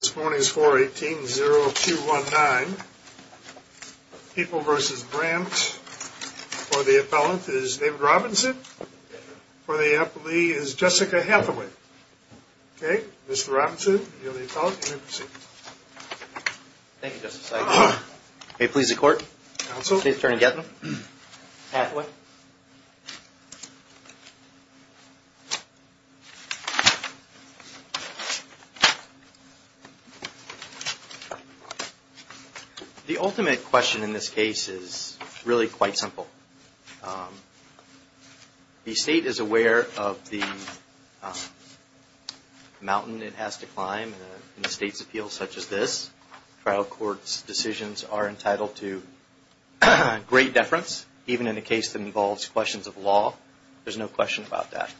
This morning is 418-0219. People v. Brandt. For the appellant is David Robinson. For the appellee is Jessica Hathaway. Okay? Mr. Robinson, you're the appellant. You may proceed. Thank you, Justice. May it please the Court? The ultimate question in this case is really quite simple. The State is aware of the mountain it has to climb in a State's appeal such as this. Trial courts' decisions are entitled to great deference, even in a case that involves questions of law. There's no question about that.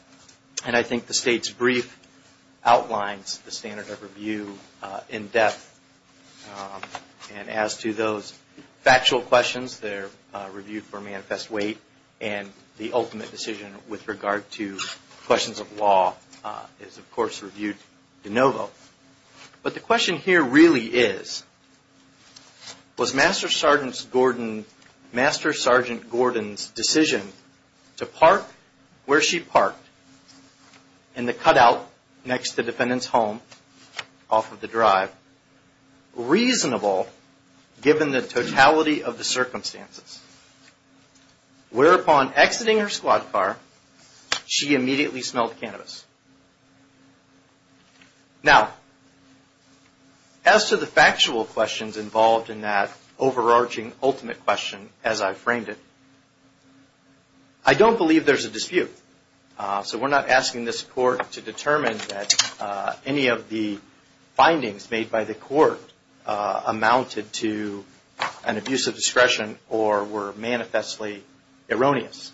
And I think the State's brief outlines the standard of review in depth. And as to those factual questions, they're reviewed for manifest weight. And the ultimate decision with regard to questions of law is, of course, reviewed de novo. But the question here really is, was Master Sergeant Gordon's decision to park where she parked in the cutout next to the defendant's home off of the drive reasonable, given the totality of the circumstances, whereupon exiting her squad car, she immediately smelled cannabis? Now, as to the factual questions involved in that overarching ultimate question, as I framed it, I don't believe there's a dispute. So we're not asking this Court to determine that any of the findings made by the Court amounted to an abuse of discretion or were manifestly erroneous.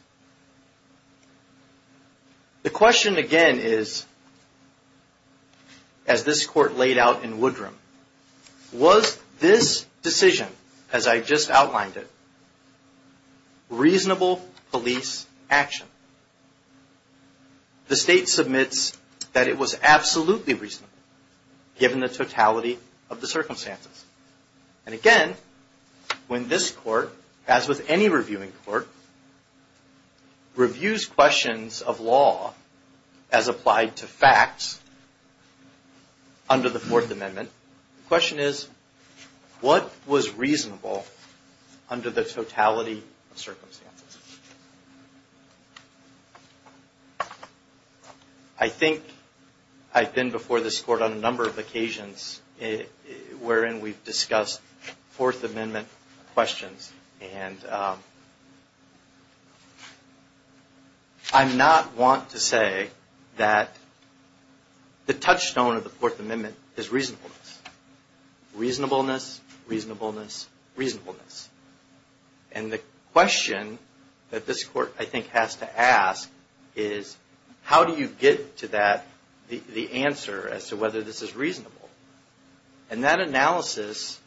The question again is, as this Court laid out in Woodrum, was this decision, as I just outlined it, reasonable police action? The State submits that it was reviews questions of law as applied to facts under the Fourth Amendment. The question is, what was reasonable under the totality of circumstances? I think I've been before this Court on a number of occasions wherein we've discussed Fourth Amendment questions. And I'm not one to say that the touchstone of the Fourth Amendment is reasonableness. Reasonableness, reasonableness, reasonableness. And the question that this Court, I think, has to ask is, how do you get to the answer as to whether this is reasonable? And that analysis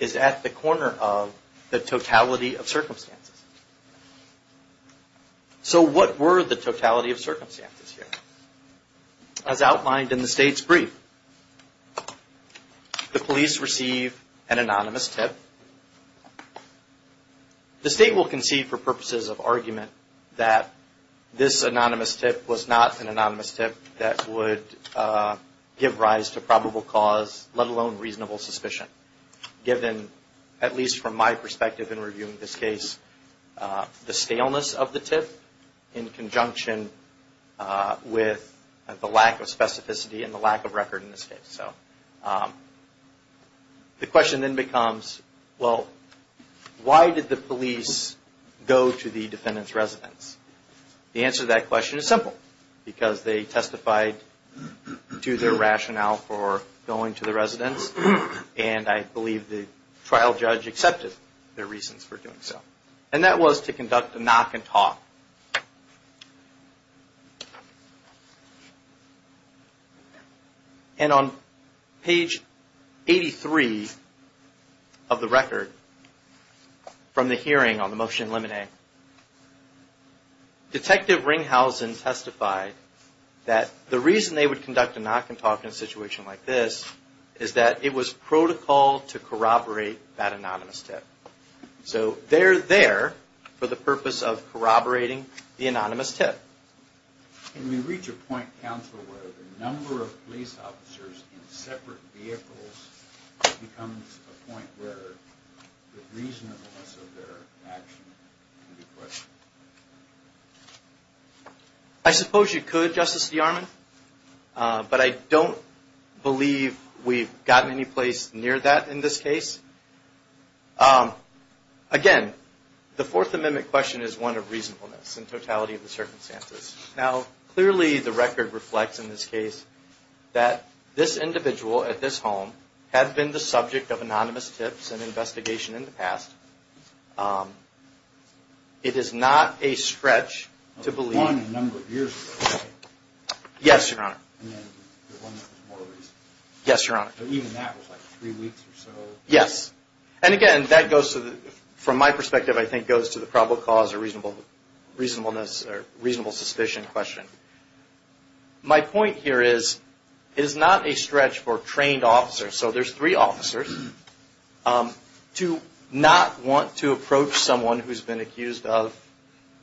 is at the corner of the totality of circumstances. So what were the totality of circumstances here? As outlined in the State's brief, the police receive an anonymous tip. The State will concede for purposes of argument that this anonymous tip was not an anonymous tip that would give rise to probable cause, let alone reasonable suspicion, given, at least from my perspective in reviewing this case, the scaleness of the tip in conjunction with the lack of specificity and the lack of record in this case. So the question then becomes, well, why did the police go to the defendant's residence? The answer to that question is simple. Because they testified to their rationale for going to the residence. And I believe the trial judge accepted their reasons for doing so. And that was to conduct a knock and talk. And on page 83 of the record from the hearing on the motion in limine, Detective Ringhausen testified that the reason they would conduct a knock and talk in a situation like this is that it was protocol to corroborate that anonymous tip. So they're there for the purpose of corroborating the anonymous tip. Can we reach a point, counsel, where the number of police officers in separate vehicles becomes a point where the reasonableness of their action can be questioned? I suppose you could, Justice DeArmond. But I don't believe we've gotten any place near that in this case. Again, the Fourth Amendment question is one of reasonableness in totality of the circumstances. Now, clearly the record reflects in this case that this individual at this home had been the subject of anonymous tips and investigation in the past. It is not a stretch to believe. Yes, Your Honor. Yes, Your Honor. Yes. Yes. And again, from my perspective, I think that goes to the probable cause or reasonable suspicion question. My point here is it is not a stretch for trained officers, so there's three officers, to not want to approach someone who's been accused of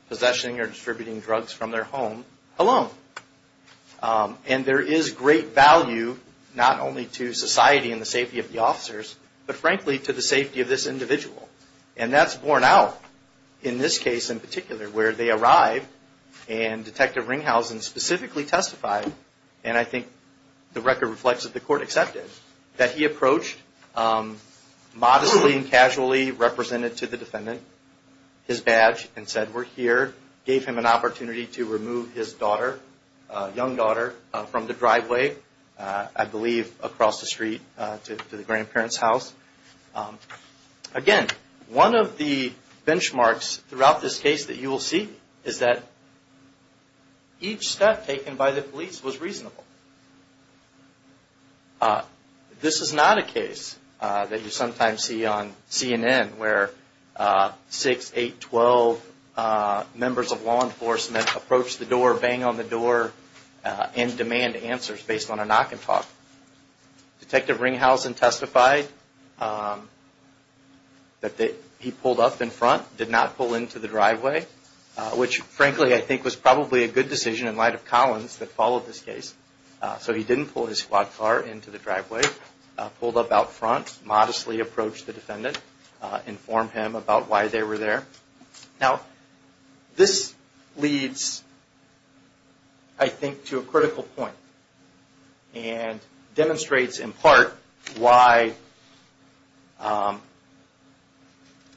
possessing or distributing drugs from their home alone. And there is great value, not only to society and the safety of the officers, but frankly to the safety of this individual. And that's borne out in this case in particular, where they arrived and Detective Ringhausen specifically testified, and I think the record reflects that the court accepted, that he approached, modestly and casually represented to the defendant his badge and said, we're here, gave him an opportunity to remove his daughter, young daughter, from the driveway, I believe across the street to the grandparents' house. Again, one of the benchmarks throughout this case that you will see is that each step taken by the police was reasonable. This is not a case that you sometimes see on CNN, where 6, 8, 12 members of law enforcement approach the door, bang on the door, and demand answers based on a knock and talk. Detective Ringhausen testified that he pulled up in front, did not pull into the driveway, which frankly I think was probably a good decision in light of Collins that followed this case. So he didn't pull his squad car into the driveway, pulled up out front, modestly approached the defendant, informed him about why they were there. Now, this leads, I think, to a critical point and demonstrates in part why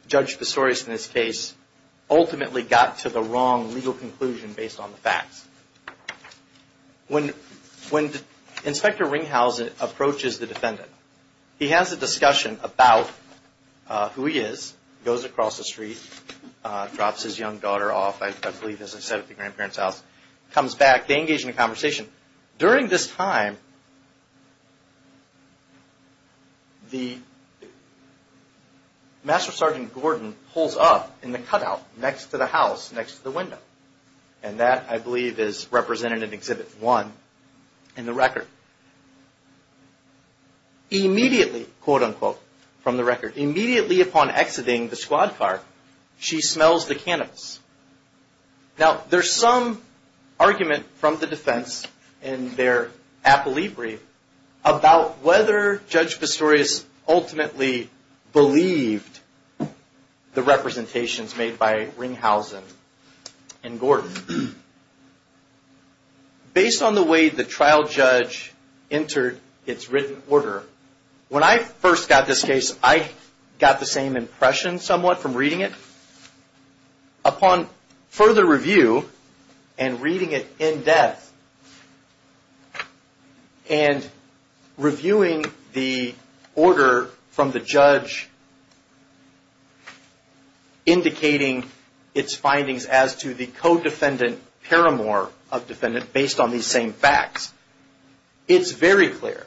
Judge Pissorius in this case ultimately got to the wrong legal conclusion based on the facts. When Inspector Ringhausen approaches the defendant, he has a discussion about who he is, goes across the street, drops his young daughter off, I believe as I said at the grandparents' house, comes back, they engage in a conversation. During this time, the Master Sergeant Gordon pulls up in the cutout next to the house, next to the window. And that, I believe, is represented in Exhibit 1 in the record. Immediately, quote unquote, from the record, immediately upon exiting the squad car, she smells the cannabis. Now, there's some argument from the defense in their appellee brief about whether Judge Pissorius ultimately believed the representations made by Ringhausen and Gordon. Based on the way the trial judge entered its written order, when I first got this case, I got the same impression somewhat from reading it. Upon further review and reading it in depth and reviewing the order from the judge indicating its findings as to the co-defendant paramour of defendant based on these same facts, it's very clear.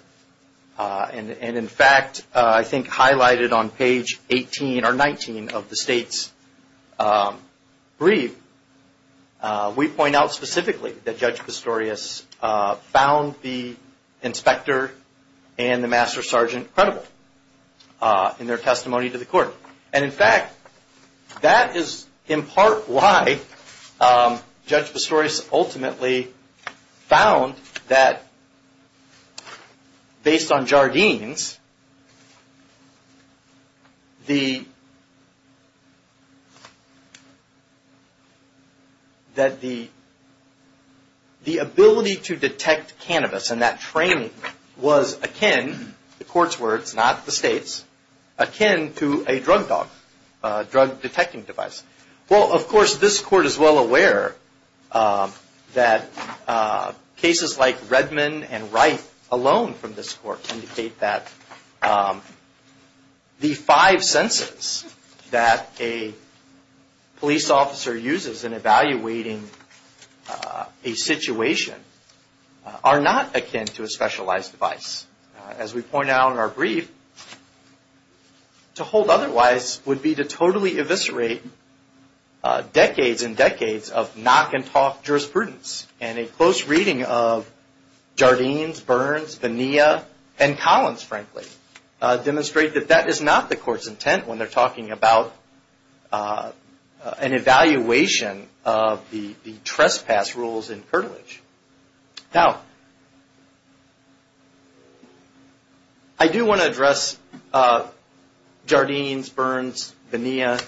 And in fact, I think highlighted on page 18 or 19 of the state's brief, we point out specifically that Judge Pissorius found the inspector and the Master Sergeant credible in their testimony to the court. And in fact, that is in part why Judge Pissorius ultimately found that based on Jardine's, that the ability to detect cannabis and that training was akin, the court's words, not the state's, akin to a drug test. A drug dog. A drug detecting device. Well, of course, this court is well aware that cases like Redman and Wright alone from this court indicate that the five senses that a police officer uses in evaluating a situation are not akin to a specialized device. As we point out in our brief, to hold otherwise would be to totally eviscerate decades and decades of knock and talk jurisprudence. And a close reading of Jardine's, Burns, Bonilla, and Collins, frankly, demonstrate that that is not the court's intent when they're talking about an evaluation of the trespass rules in curtilage. Now, I do want to address Jardine's, Burns, Bonilla,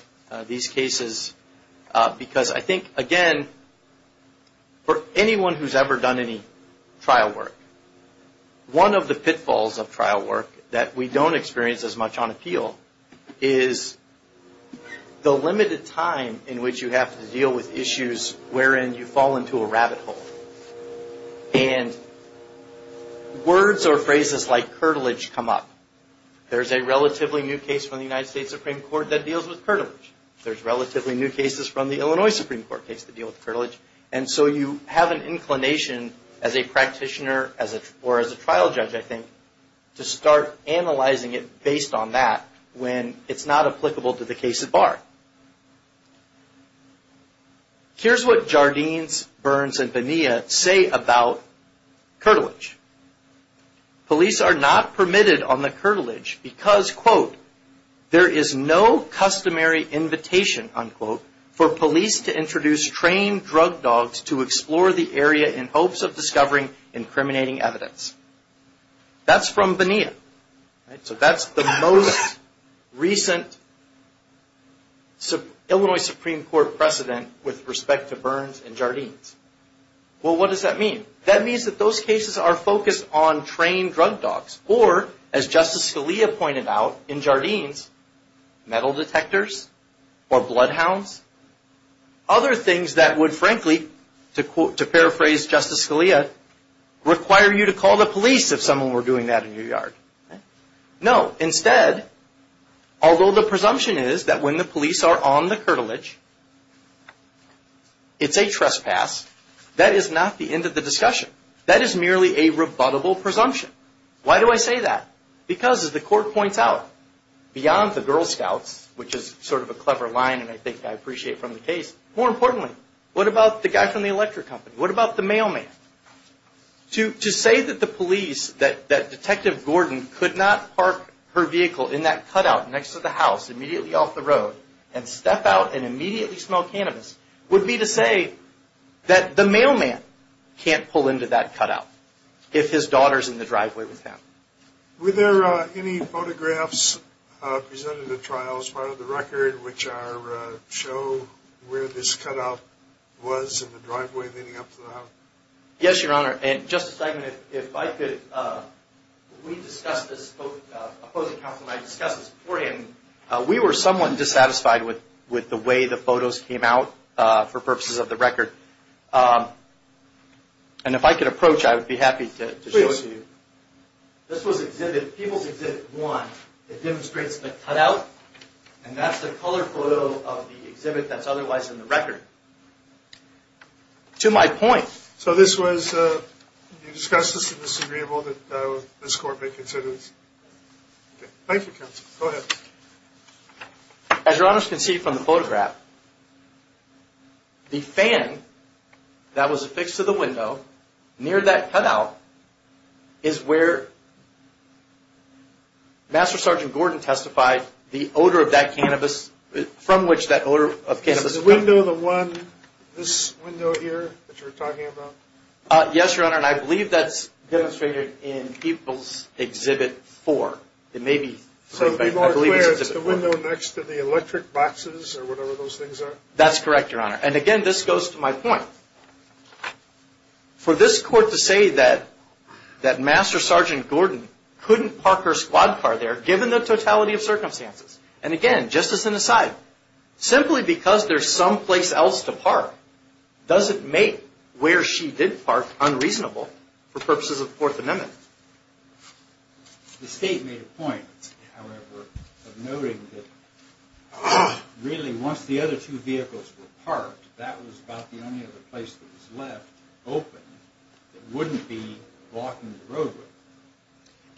these cases because I think, again, for anyone who's ever done any trial work, one of the pitfalls of trial work that we don't experience as much on appeal is the limited time in which you have to deal with issues wherein you fall into a rabbit hole. And words or phrases like curtilage come up. There's a relatively new case from the United States Supreme Court that deals with curtilage. There's relatively new cases from the Illinois Supreme Court case that deal with curtilage. And so you have an inclination as a practitioner or as a trial judge, I think, to start analyzing it based on that when it's not applicable to the case at bar. Here's what Jardine's, Burns, and Bonilla say about curtilage. Police are not permitted on the curtilage because, quote, there is no customary invitation, unquote, for police to introduce trained drug dogs to explore the area in hopes of discovering incriminating evidence. That's from Bonilla. So that's the most recent Illinois Supreme Court precedent with respect to Burns and Jardines. Well, what does that mean? That means that those cases are focused on trained drug dogs or, as Justice Scalia pointed out in Jardines, metal detectors or bloodhounds. Other things that would, frankly, to paraphrase Justice Scalia, require you to call the police if someone were doing that in your yard. No. Instead, although the presumption is that when the police are on the curtilage, it's a trespass, that is not the end of the discussion. That is merely a rebuttable presumption. Why do I say that? Because, as the court points out, beyond the Girl Scouts, which is sort of a clever line and I think I appreciate from the case, more importantly, what about the guy from the electric company? What about the mailman? To say that the police, that Detective Gordon could not park her vehicle in that cutout next to the house immediately off the road and step out and immediately smell cannabis would be to say that the mailman can't pull into that cutout if his daughter's in the driveway with him. Were there any photographs presented at trial as part of the record which show where this cutout was in the driveway leading up to the house? Yes, Your Honor. And, Justice Dimon, if I could, we discussed this, both the opposing counsel and I discussed this beforehand. We were somewhat dissatisfied with the way the photos came out for purposes of the record. And if I could approach, I would be happy to show it to you. This was exhibit, People's Exhibit 1, that demonstrates the cutout and that's the color photo of the exhibit that's otherwise in the record. To my point... So this was, you discussed this as disagreeable that this court may consider this? Thank you, counsel. Go ahead. As Your Honor can see from the photograph, the fan that was affixed to the window near that cutout is where Master Sergeant Gordon testified the odor of that cannabis, from which that odor of cannabis... Is the window the one, this window here that you were talking about? Yes, Your Honor, and I believe that's demonstrated in People's Exhibit 4. It may be... So it would be more clear, it's the window next to the electric boxes or whatever those things are? That's correct, Your Honor. And again, this goes to my point. For this court to say that Master Sergeant Gordon couldn't park her squad car there, given the totality of circumstances, and again, just as an aside, simply because there's someplace else to park, doesn't make where she did park unreasonable for purposes of the Fourth Amendment. The State made a point, however, of noting that really once the other two vehicles were parked, that was about the only other place that was left open that wouldn't be blocking the roadway.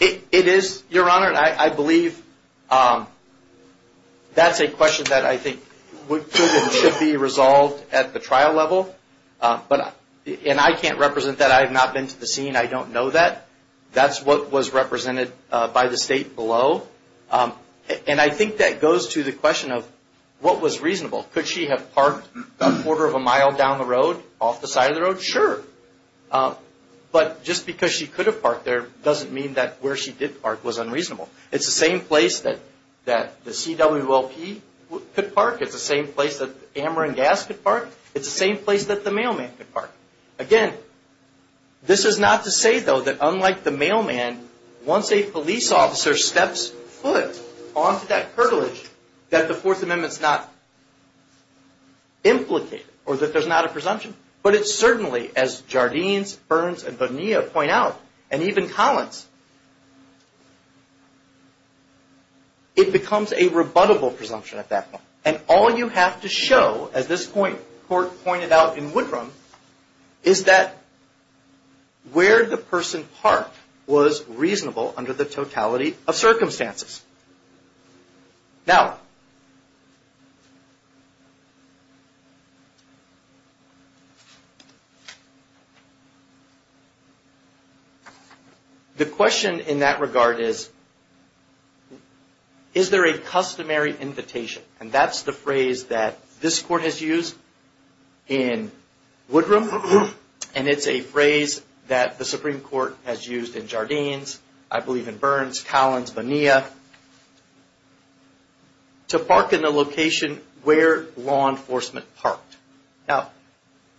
It is, Your Honor, and I believe that's a question that I think should be resolved at the trial level, and I can't represent that. I have not been to the scene. I don't know that. That's what was represented by the State below. And I think that goes to the question of what was reasonable. Could she have parked a quarter of a mile down the road, off the side of the road? Sure, but just because she could have parked there doesn't mean that where she did park was unreasonable. It's the same place that the CWLP could park. It's the same place that Ameren Gas could park. It's the same place that the mailman could park. Again, this is not to say, though, that unlike the mailman, once a police officer steps foot onto that curtilage, that the Fourth Amendment's not implicated or that there's not a presumption. But it certainly, as Jardines, Burns, and Bonilla point out, and even Collins, it becomes a rebuttable presumption at that point. And all you have to show, as this court pointed out in Woodrum, is that where the person parked was reasonable under the totality of circumstances. Now, the question in that regard is, is there a customary invitation? And that's the phrase that this court has used in Woodrum, and it's a phrase that the Supreme Court has used in Jardines, I believe in Burns, Collins, Bonilla, to park in the location where law enforcement parked. Now,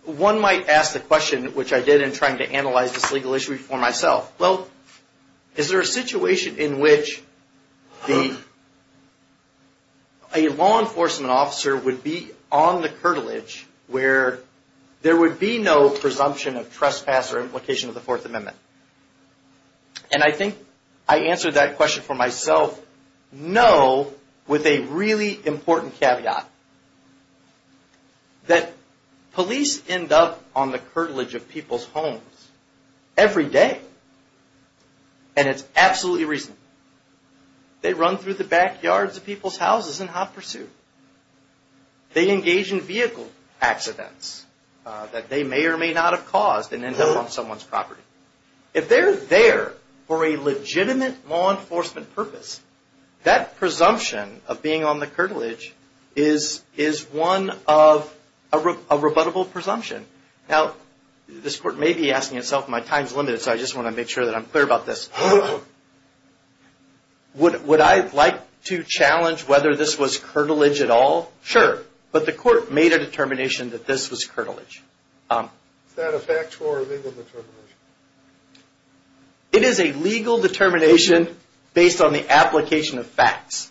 one might ask the question, which I did in trying to analyze this legal issue for myself, well, is there a situation in which a law enforcement officer would be on the curtilage where there would be no presumption of trespass or implication of the Fourth Amendment? And I think I answered that question for myself, no, with a really important caveat, that police end up on the curtilage of people's homes every day. And it's absolutely reasonable. They run through the backyards of people's houses in hot pursuit. They engage in vehicle accidents that they may or may not have caused and end up on someone's property. If they're there for a legitimate law enforcement purpose, that presumption of being on the curtilage is one of a rebuttable presumption. Now, this court may be asking itself, my time's limited, so I just want to make sure that I'm clear about this. Would I like to challenge whether this was curtilage at all? Sure. But the court made a determination that this was curtilage. Is that a factual or legal determination? It is a legal determination based on the application of facts.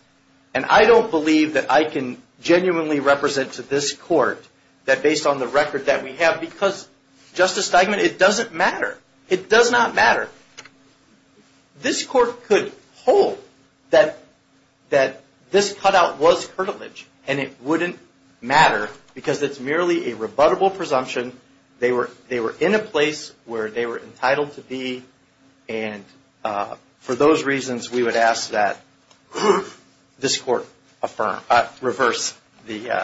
And I don't believe that I can genuinely represent to this court that based on the record that we have, because, Justice Steigman, it doesn't matter. It does not matter. This court could hold that this cutout was curtilage and it wouldn't matter because it's merely a rebuttable presumption. They were in a place where they were entitled to be. And for those reasons, we would ask that this court reverse the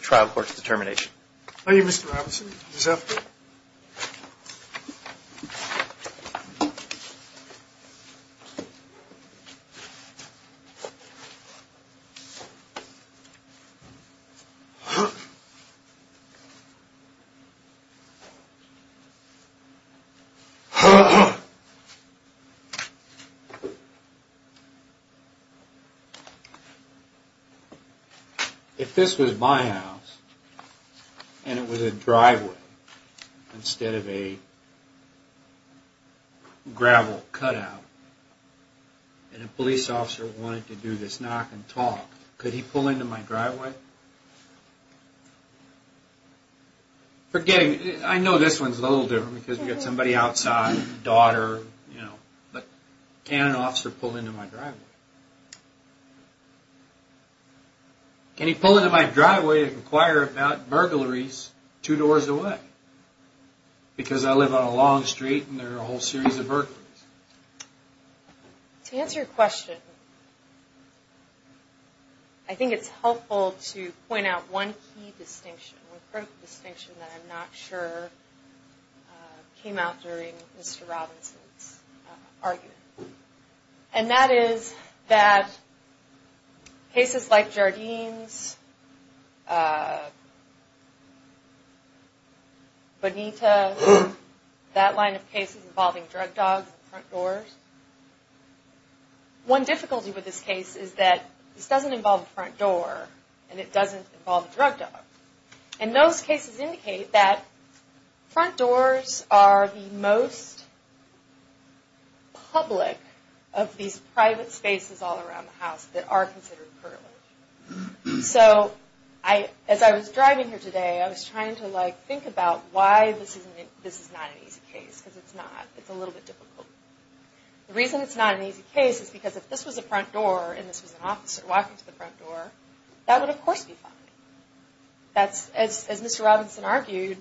trial court's determination. Thank you, Mr. Robinson. He's up. If this was my house and it was a driveway, instead of a gravel cutout, and a police officer wanted to do this knock and talk, could he pull into my driveway? I know this one's a little different because we've got somebody outside, a daughter. But can an officer pull into my driveway? Can he pull into my driveway and inquire about burglaries two doors away? Because I live on a long street and there are a whole series of burglaries. To answer your question, I think it's helpful to point out one key distinction, one critical distinction that I'm not sure came out during Mr. Robinson's argument. And that is that cases like Jardine's, Bonita, that line of cases involving drug dogs and front doors, one difficulty with this case is that this doesn't involve a front door and it doesn't involve a drug dog. And those cases indicate that front doors are the most public of these private spaces all around the house that are considered privilege. So as I was driving here today, I was trying to think about why this is not an easy case. Because it's not. It's a little bit difficult. The reason it's not an easy case is because if this was a front door and this was an officer walking to the front door, that would of course be fine. As Mr. Robinson argued,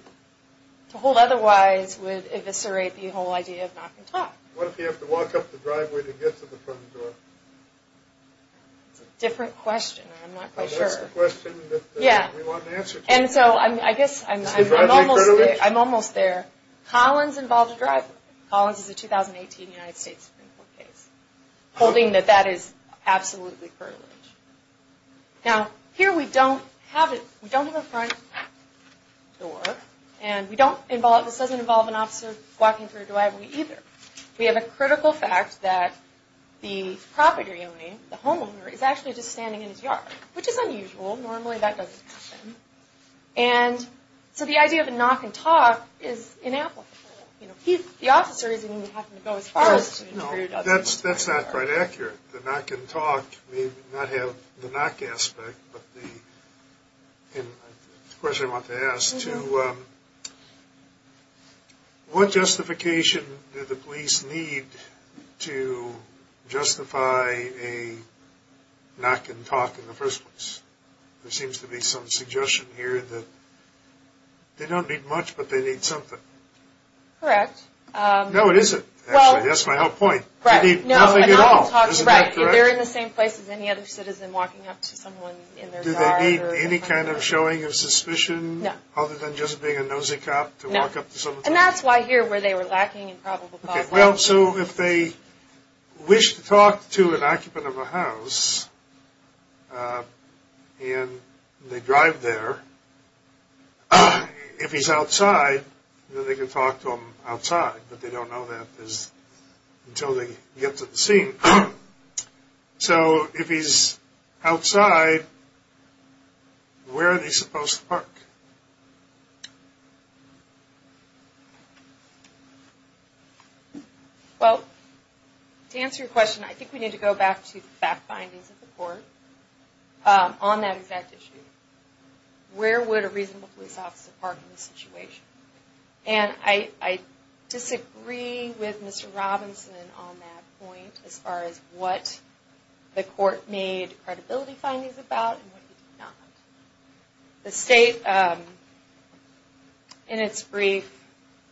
to hold otherwise would eviscerate the whole idea of knocking top. What if you have to walk up the driveway to get to the front door? That's a different question and I'm not quite sure. That's the question that we want an answer to. And so I guess I'm almost there. Collins involved a driveway. Collins is a 2018 United States Supreme Court case, holding that that is absolutely privilege. Now, here we don't have a front door and this doesn't involve an officer walking through a driveway either. We have a critical fact that the property owner, the homeowner, is actually just standing in his yard, which is unusual. Normally that doesn't happen. And so the idea of a knock and top is inapplicable. The officer is going to have to go as far as to interfere. That's not quite accurate. The knock and talk may not have the knock aspect, but the question I want to ask, what justification did the police need to justify a knock and talk in the first place? There seems to be some suggestion here that they don't need much, but they need something. Correct. No, it isn't. Actually, that's my whole point. They need nothing at all. Right. They're in the same place as any other citizen walking up to someone in their yard. Do they need any kind of showing of suspicion? No. Other than just being a nosy cop to walk up to someone? And that's why here where they were lacking in probable cause. Well, so if they wish to talk to an occupant of a house and they drive there, if he's outside, then they can talk to him outside, but they don't know that until they get to the scene. So if he's outside, where are they supposed to park? Well, to answer your question, I think we need to go back to the fact findings of the court on that exact issue. Where would a reasonable police officer park in this situation? And I disagree with Mr. Robinson on that point as far as what the court made credibility findings about and what he did not. The state, in its brief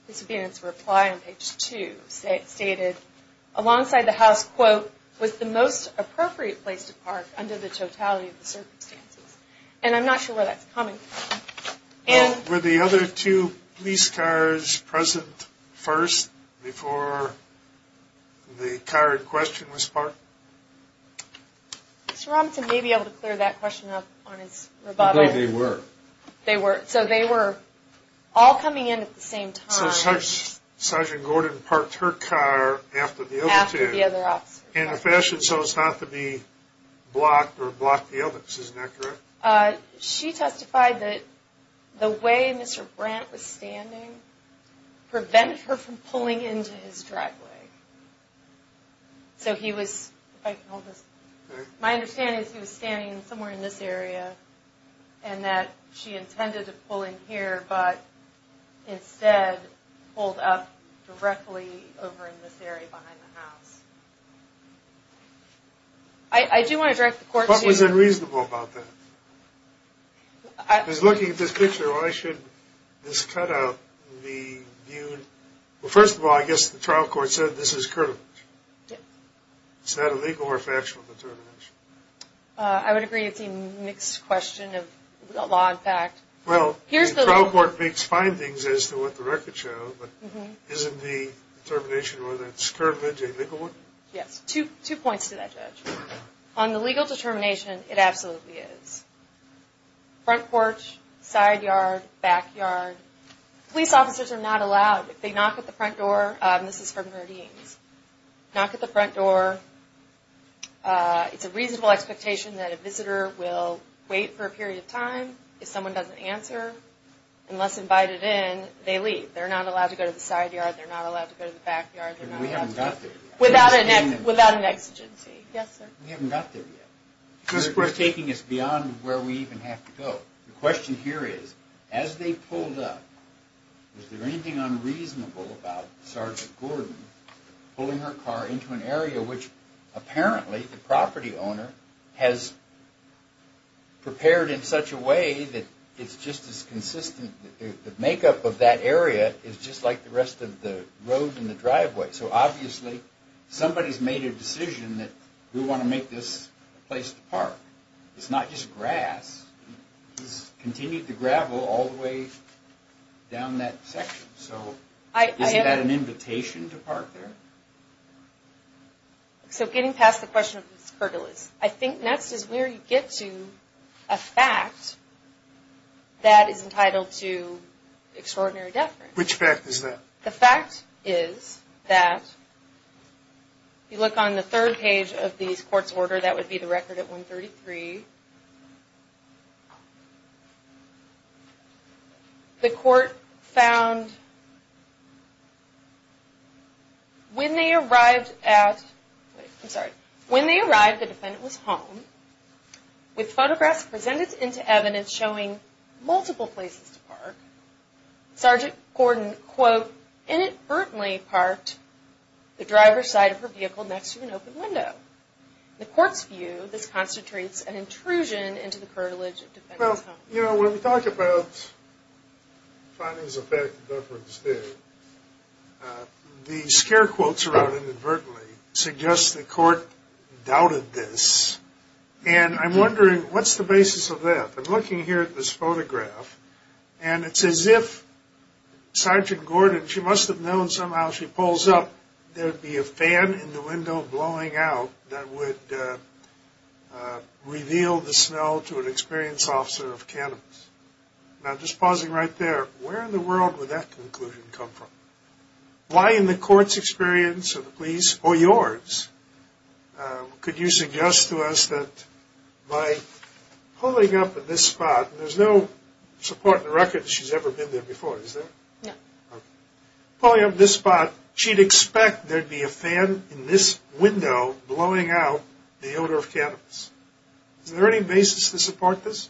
disappearance reply on page 2, stated alongside the house, quote, was the most appropriate place to park under the totality of the circumstances. And I'm not sure where that's coming from. Were the other two police cars present first before the car in question was parked? Mr. Robinson may be able to clear that question up on his rebuttal. I believe they were. They were. So they were all coming in at the same time. So Sergeant Gordon parked her car after the other two. After the other officers. In a fashion so as not to be blocked or block the others. Isn't that correct? She testified that the way Mr. Brandt was standing prevented her from pulling into his driveway. So he was, if I can hold this. Okay. My understanding is he was standing somewhere in this area and that she intended to pull in here, but instead pulled up directly over in this area behind the house. I do want to direct the court. What was unreasonable about that? I was looking at this picture. Why should this cutout be viewed? Well, first of all, I guess the trial court said this is curvilege. Is that a legal or factual determination? I would agree it's a mixed question of law and fact. Well, the trial court makes findings as to what the records show, but isn't the determination whether it's curvilege or legal? Yes. Two points to that, Judge. On the legal determination, it absolutely is. Front porch, side yard, back yard. Police officers are not allowed. If they knock at the front door, and this is from Merdeems, knock at the front door. It's a reasonable expectation that a visitor will wait for a period of time. If someone doesn't answer, unless invited in, they leave. They're not allowed to go to the side yard. They're not allowed to go to the back yard. We haven't got there yet. Without an exigency. Yes, sir. We haven't got there yet. It's taking us beyond where we even have to go. The question here is, as they pulled up, was there anything unreasonable about Sergeant Gordon pulling her car into an area which apparently the property owner has prepared in such a way that it's just as consistent. The makeup of that area is just like the rest of the road and the driveway. So, obviously, somebody's made a decision that we want to make this a place to park. It's not just grass. It's continued to gravel all the way down that section. So, isn't that an invitation to park there? So, getting past the question of these pergolas, I think next is where you get to a fact that is entitled to extraordinary deference. Which fact is that? The fact is that, if you look on the third page of these court's order, that would be the record at 133, the court found when they arrived at, I'm sorry, when they arrived, the defendant was home, with photographs presented into evidence showing multiple places to park, Sergeant Gordon, quote, inadvertently parked the driver's side of her vehicle next to an open window. In the court's view, this constitutes an intrusion into the curtilage of the defendant's home. Well, you know, when we talk about findings of bad deference there, the scare quotes around inadvertently suggest the court doubted this. And I'm wondering, what's the basis of that? I'm looking here at this photograph, and it's as if Sergeant Gordon, she must have known somehow she pulls up, there would be a fan in the window blowing out that would reveal the smell to an experienced officer of cannabis. Now, just pausing right there, where in the world would that conclusion come from? Why in the court's experience, or the police, or yours, could you suggest to us that by pulling up at this spot, and there's no support in the record that she's ever been there before, is there? No. Okay. Pulling up at this spot, she'd expect there'd be a fan in this window blowing out the odor of cannabis. Is there any basis to support this?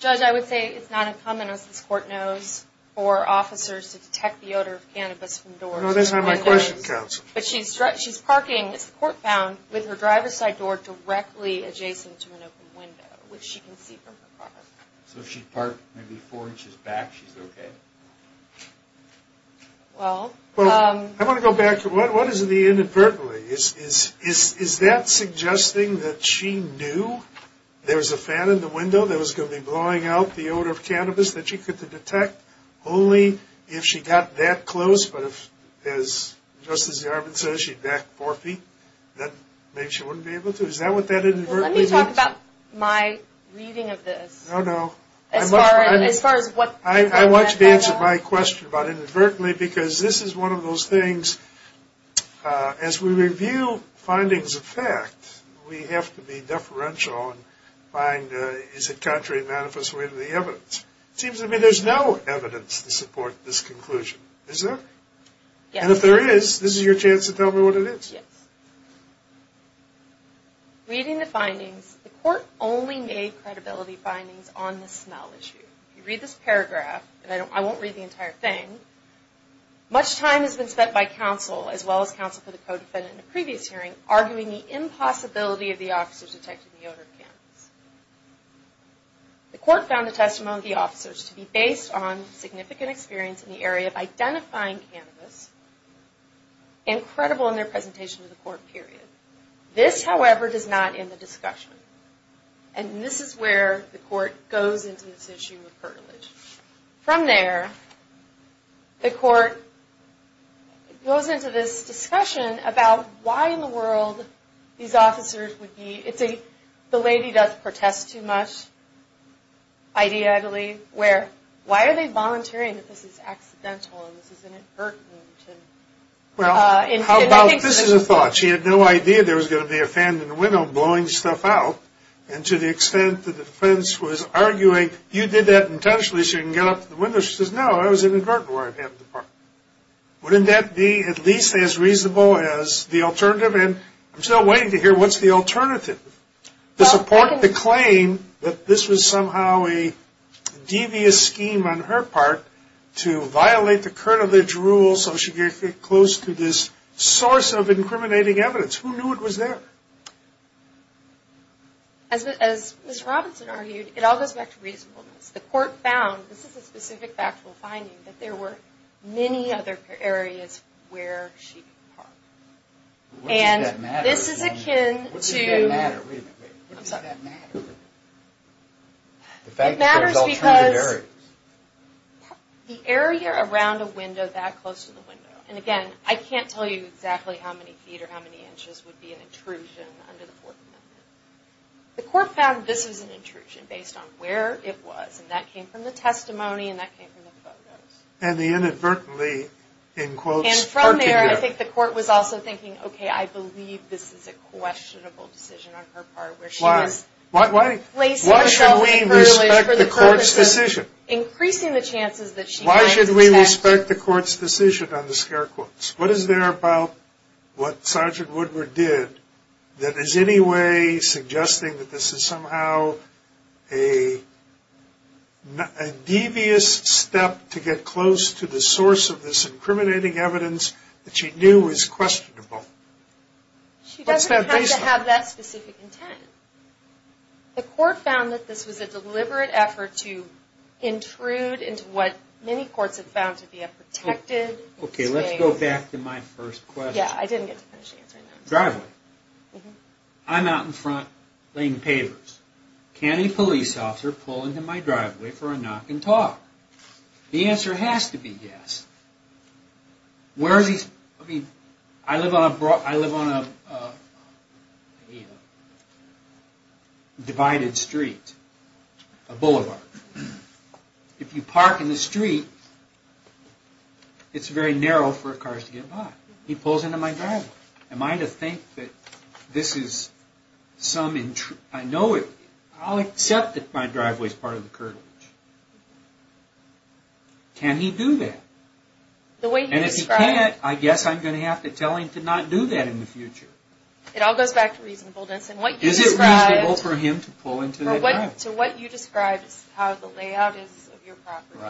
Judge, I would say it's not uncommon, as this court knows, for officers to detect the odor of cannabis from doors. No, that's not my question, counsel. But she's parking, as the court found, with her driver's side door directly adjacent to an open window, which she can see from her car. So if she parked maybe four inches back, she's okay? Well, I want to go back to what is the inadvertently? Is that suggesting that she knew there was a fan in the window that was going to be blowing out the odor of cannabis that she could detect only if she got that close? But if, just as Jarvin says, she backed four feet, then maybe she wouldn't be able to? Is that what that inadvertently means? Let me talk about my reading of this. Oh, no. As far as what? I want you to answer my question about inadvertently, because this is one of those things. As we review findings of fact, we have to be deferential and find, is it contrary to the manifest way of the evidence? It seems to me there's no evidence to support this conclusion. Is there? Yes. And if there is, this is your chance to tell me what it is. Yes. Reading the findings, the court only made credibility findings on the smell issue. If you read this paragraph, and I won't read the entire thing, much time has been spent by counsel, as well as counsel for the co-defendant in the previous hearing, arguing the impossibility of the officers detecting the odor of cannabis. The court found the testimony of the officers to be based on significant experience in the area of identifying cannabis, incredible in their presentation to the court, period. This, however, does not end the discussion. And this is where the court goes into this issue of curtilage. From there, the court goes into this discussion about why in the world these officers would be, it's a the lady doth protest too much idea, I believe, where why are they volunteering that this is accidental and this is inadvertent? Well, how about, this is a thought. She had no idea there was going to be a fan in the window blowing stuff out. And to the extent the defense was arguing, you did that intentionally so you can get up to the window, she says, no, that was inadvertent. Wouldn't that be at least as reasonable as the alternative? And I'm still waiting to hear what's the alternative. To support the claim that this was somehow a devious scheme on her part to violate the curtilage rules so she could get close to this source of incriminating evidence. Who knew it was there? As Ms. Robinson argued, it all goes back to reasonableness. The court found, this is a specific factual finding, that there were many other areas where she could park. And this is akin to... What does that matter? It matters because the area around a window that close to the window, and again, I can't tell you exactly how many feet or how many inches would be an intrusion under the Fourth Amendment. The court found this was an intrusion based on where it was, and that came from the testimony and that came from the photos. And the inadvertently, in quotes, parking there. And from there, I think the court was also thinking, okay, I believe this is a questionable decision on her part. Why? Why should we respect the court's decision? Increasing the chances that she might... Why should we respect the court's decision on the scare quotes? What is there about what Sergeant Woodward did that is in any way suggesting that this is somehow a devious step to get close to the source of this incriminating evidence that she knew was questionable? She doesn't have to have that specific intent. The court found that this was a deliberate effort to intrude into what many courts have found to be a protected... Okay, let's go back to my first question. Yeah, I didn't get to finish answering that. Driveway. I'm out in front laying papers. Can a police officer pull into my driveway for a knock and talk? The answer has to be yes. Where is he... I live on a divided street, a boulevard. If you park in the street, it's very narrow for cars to get by. He pulls into my driveway. Am I to think that this is some... I'll accept that my driveway is part of the curtilage. Can he do that? And if he can't, I guess I'm going to have to tell him to not do that in the future. It all goes back to reasonableness. Is it reasonable for him to pull into my driveway? To what you described is how the layout is of your property.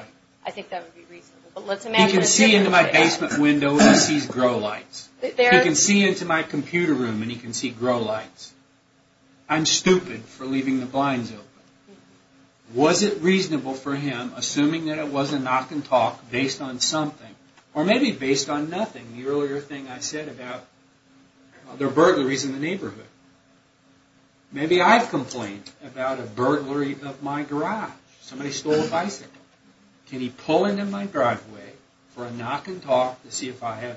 I think that would be reasonable. He can see into my basement window when he sees grow lights. He can see into my computer room and he can see grow lights. I'm stupid for leaving the blinds open. Was it reasonable for him, assuming that it was a knock and talk, based on something? Or maybe based on nothing. The earlier thing I said about other burglaries in the neighborhood. Maybe I've complained about a burglary of my garage. Somebody stole a bicycle. Can he pull into my driveway for a knock and talk to see if I have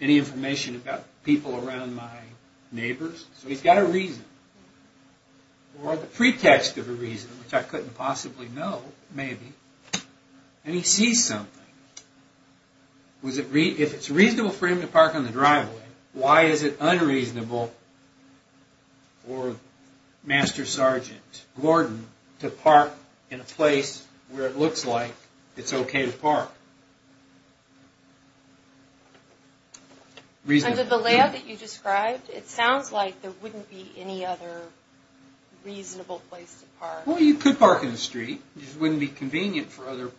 any information about people around my neighbors? So he's got a reason. Or the pretext of a reason, which I couldn't possibly know, maybe. And he sees something. If it's reasonable for him to park on the driveway, why is it unreasonable for Master Sergeant Gordon to park in a place where it looks like it's okay to park? Under the layout that you described, it sounds like there wouldn't be any other reasonable place to park. Well, you could park in the street. It just wouldn't be convenient for other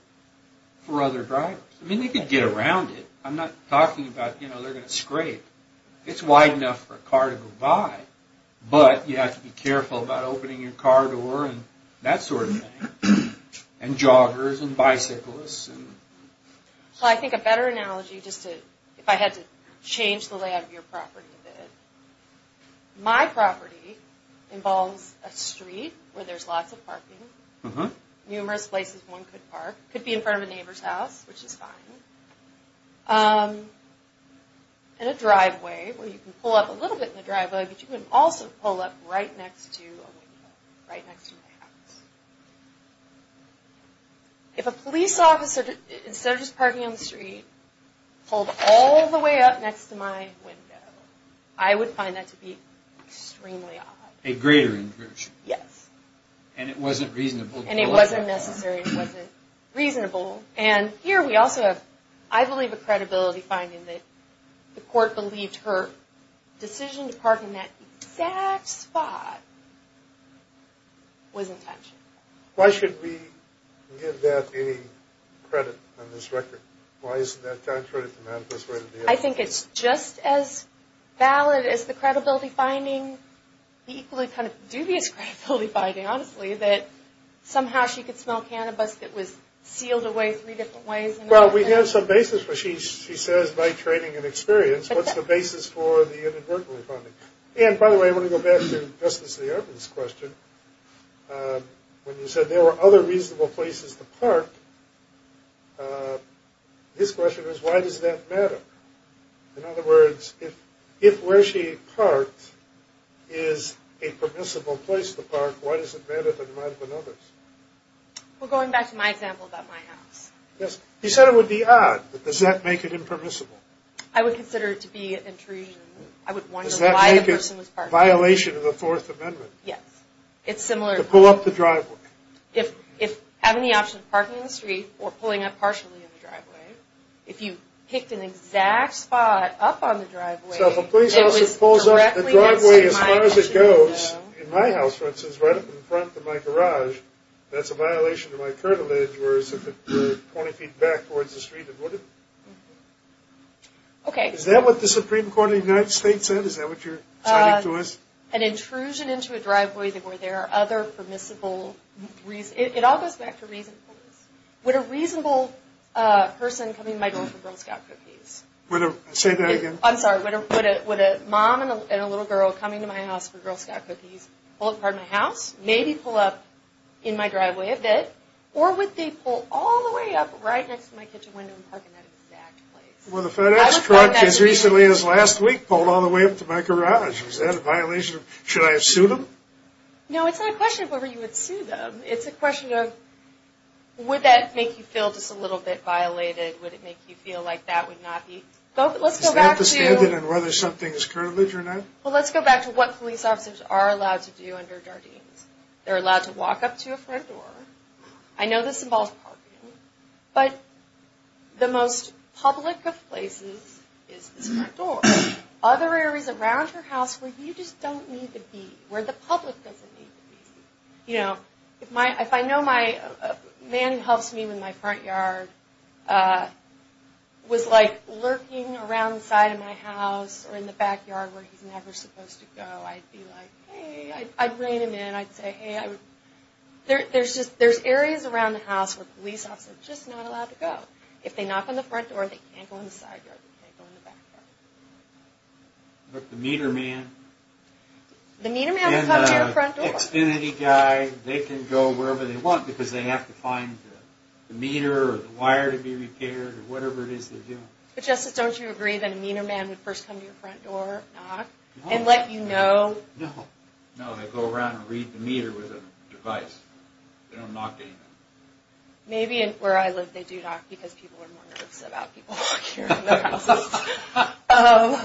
drivers. I mean, they could get around it. I'm not talking about, you know, they're going to scrape. It's wide enough for a car to go by. But you have to be careful about opening your car door and that sort of thing. And joggers and bicyclists. Well, I think a better analogy, if I had to change the layout of your property a bit. My property involves a street where there's lots of parking. Numerous places one could park. Could be in front of a neighbor's house, which is fine. And a driveway where you can pull up a little bit in the driveway, but you can also pull up right next to a window, right next to my house. If a police officer, instead of just parking on the street, pulled all the way up next to my window, I would find that to be extremely odd. A greater intrusion. Yes. And it wasn't reasonable. And it wasn't necessary. It wasn't reasonable. And here we also have, I believe, a credibility finding, that the court believed her decision to park in that exact spot was intentional. Why should we give that a credit on this record? Why isn't that contrary to the manifesto? I think it's just as valid as the credibility finding, the equally kind of dubious credibility finding, honestly, that somehow she could smell cannabis that was sealed away three different ways. Well, we have some basis for it. She says, by training and experience, what's the basis for the inadvertently finding? And, by the way, I want to go back to Justice Lee Ervin's question. When you said there were other reasonable places to park, his question was, why does that matter? In other words, if where she parked is a permissible place to park, why does it matter that it might have been others? Well, going back to my example about my house. Yes. You said it would be odd, but does that make it impermissible? I would consider it to be an intrusion. I would wonder why the person was parking. Does that make it a violation of the Fourth Amendment? Yes. It's similar. To pull up the driveway. If having the option of parking in the street or pulling up partially in the driveway, if you picked an exact spot up on the driveway, So, if a police officer pulls up the driveway as far as it goes, in my house, for instance, right up in front of my garage, that's a violation of my current allegiance, whereas if it were 20 feet back towards the street, it wouldn't. Okay. Is that what the Supreme Court of the United States said? Is that what you're citing to us? An intrusion into a driveway where there are other permissible reasons. It all goes back to reasonableness. Would a reasonable person coming to my door for Girl Scout cookies? Say that again. I'm sorry. Would a mom and a little girl coming to my house for Girl Scout cookies pull up in front of my house, maybe pull up in my driveway a bit, or would they pull all the way up right next to my kitchen window and park in that exact place? Would a FedEx truck as recently as last week pull all the way up to my garage? Is that a violation? Should I have sued them? No, it's not a question of whether you would sue them. It's a question of would that make you feel just a little bit violated? Would it make you feel like that would not be? Is that the standard on whether something is curvilege or not? Well, let's go back to what police officers are allowed to do under Jardines. They're allowed to walk up to a front door. I know this involves parking, but the most public of places is this front door. Other areas around your house where you just don't need to be, where the public doesn't need to be. If I know my man who helps me with my front yard was lurking around the side of my house or in the backyard where he's never supposed to go, I'd be like, hey. I'd rein him in. I'd say, hey. There's areas around the house where police officers are just not allowed to go. If they knock on the front door, they can't go in the side yard. They can't go in the back yard. But the meter man and the Xfinity guy, they can go wherever they want because they have to find the meter or the wire to be repaired or whatever it is they're doing. But Justice, don't you agree that a meter man would first come to your front door and knock and let you know? No. No, they go around and read the meter with a device. They don't knock to anyone. Maybe where I live they do knock because people are more nervous about people walking around their houses.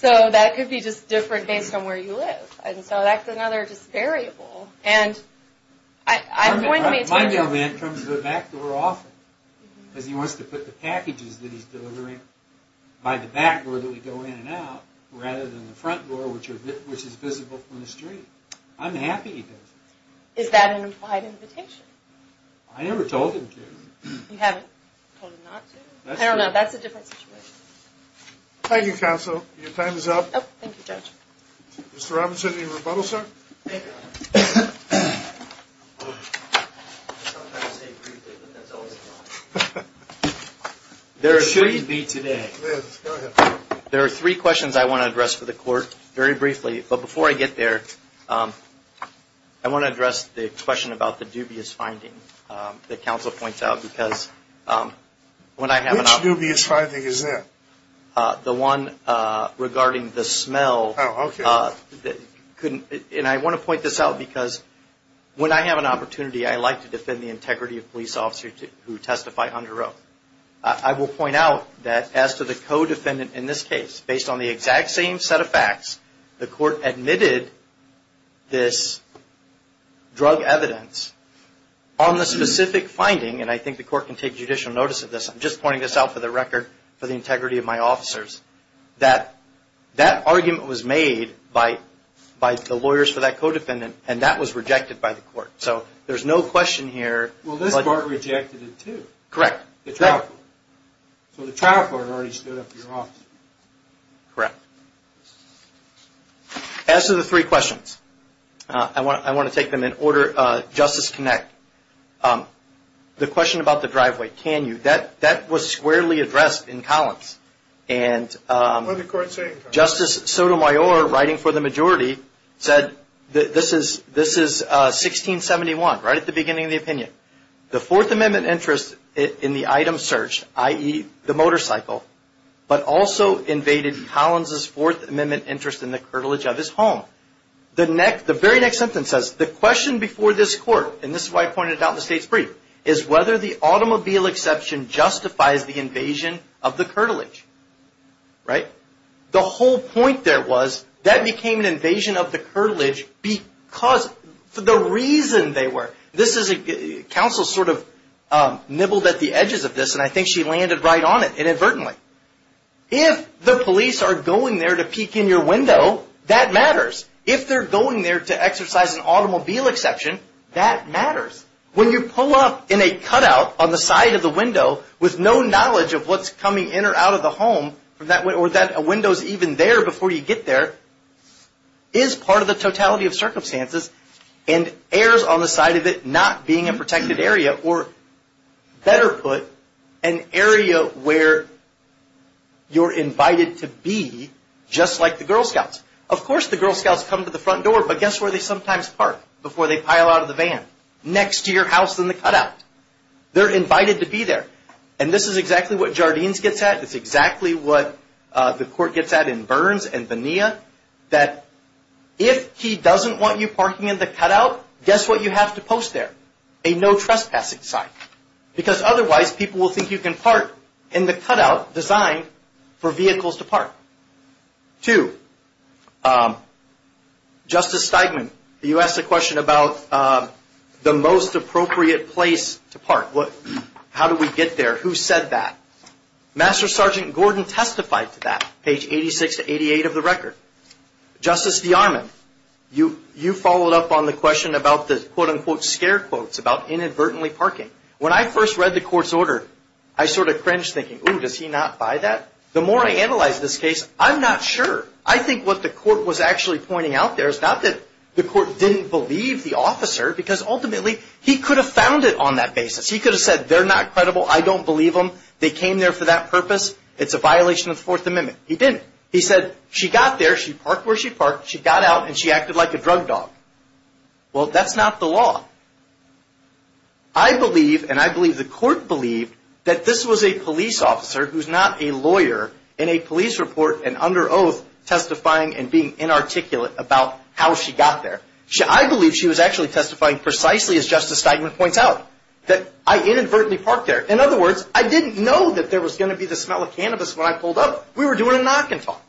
So that could be just different based on where you live. And so that's another just variable. And I'm going to be attentive. My mailman comes to the back door often because he wants to put the packages that he's delivering by the back door that we go in and out rather than the front door which is visible from the street. I'm happy he does it. Is that an implied invitation? I never told him to. You haven't told him not to? I don't know. That's a different situation. Thank you, Counsel. Your time is up. Oh, thank you, Judge. Mr. Robinson, any rebuttal, sir? Thank you. I'm going to say it briefly, but that's always fine. It should be today. Yes, go ahead. There are three questions I want to address for the Court very briefly. But before I get there, I want to address the question about the dubious finding that Counsel points out Which dubious finding is that? The one regarding the smell. Oh, okay. And I want to point this out because when I have an opportunity, I like to defend the integrity of police officers who testify under oath. I will point out that as to the co-defendant in this case, based on the exact same set of facts, the Court admitted this drug evidence on the specific finding, and I think the Court can take judicial notice of this. I'm just pointing this out for the record for the integrity of my officers, that that argument was made by the lawyers for that co-defendant, and that was rejected by the Court. So there's no question here. Well, this Court rejected it, too. Correct. The trial court. So the trial court already stood up to your officer. Correct. As to the three questions, I want to take them in order. Justice Knecht, the question about the driveway, can you, that was squarely addressed in Collins. What did the Court say in Collins? Justice Sotomayor, writing for the majority, said this is 1671, right at the beginning of the opinion. The Fourth Amendment interest in the item searched, i.e., the motorcycle, but also invaded Collins' Fourth Amendment interest in the curtilage of his home. The very next sentence says, the question before this Court, and this is why I pointed it out in the state's brief, is whether the automobile exception justifies the invasion of the curtilage. Right? The whole point there was that became an invasion of the curtilage because, for the reason they were. Counsel sort of nibbled at the edges of this, and I think she landed right on it, inadvertently. If the police are going there to peek in your window, that matters. If they're going there to exercise an automobile exception, that matters. When you pull up in a cutout on the side of the window with no knowledge of what's coming in or out of the home, or that window's even there before you get there, is part of the totality of circumstances, and errs on the side of it not being a protected area, or better put, an area where you're invited to be, just like the Girl Scouts. Of course the Girl Scouts come to the front door, but guess where they sometimes park before they pile out of the van? Next to your house in the cutout. They're invited to be there. And this is exactly what Jardines gets at. It's exactly what the court gets at in Burns and Bonilla, that if he doesn't want you parking in the cutout, guess what you have to post there? A no trespassing sign, because otherwise people will think you can park in the cutout designed for vehicles to park. Two, Justice Steigman, you asked a question about the most appropriate place to park. How do we get there? Who said that? Master Sergeant Gordon testified to that, page 86 to 88 of the record. Justice DeArmond, you followed up on the question about the, quote, unquote, scare quotes about inadvertently parking. When I first read the court's order, I sort of cringed, thinking, ooh, does he not buy that? The more I analyze this case, I'm not sure. I think what the court was actually pointing out there is not that the court didn't believe the officer, because ultimately he could have found it on that basis. He could have said they're not credible, I don't believe them, they came there for that purpose, it's a violation of the Fourth Amendment. He didn't. He said she got there, she parked where she parked, she got out, and she acted like a drug dog. Well, that's not the law. I believe, and I believe the court believed, that this was a police officer who's not a lawyer in a police report and under oath testifying and being inarticulate about how she got there. I believe she was actually testifying precisely, as Justice Steinman points out, that I inadvertently parked there. In other words, I didn't know that there was going to be the smell of cannabis when I pulled up. We were doing a knock and talk.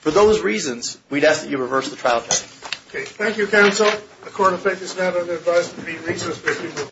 For those reasons, we'd ask that you reverse the trial. Thank you, counsel. The court will take this now to the advisory committee.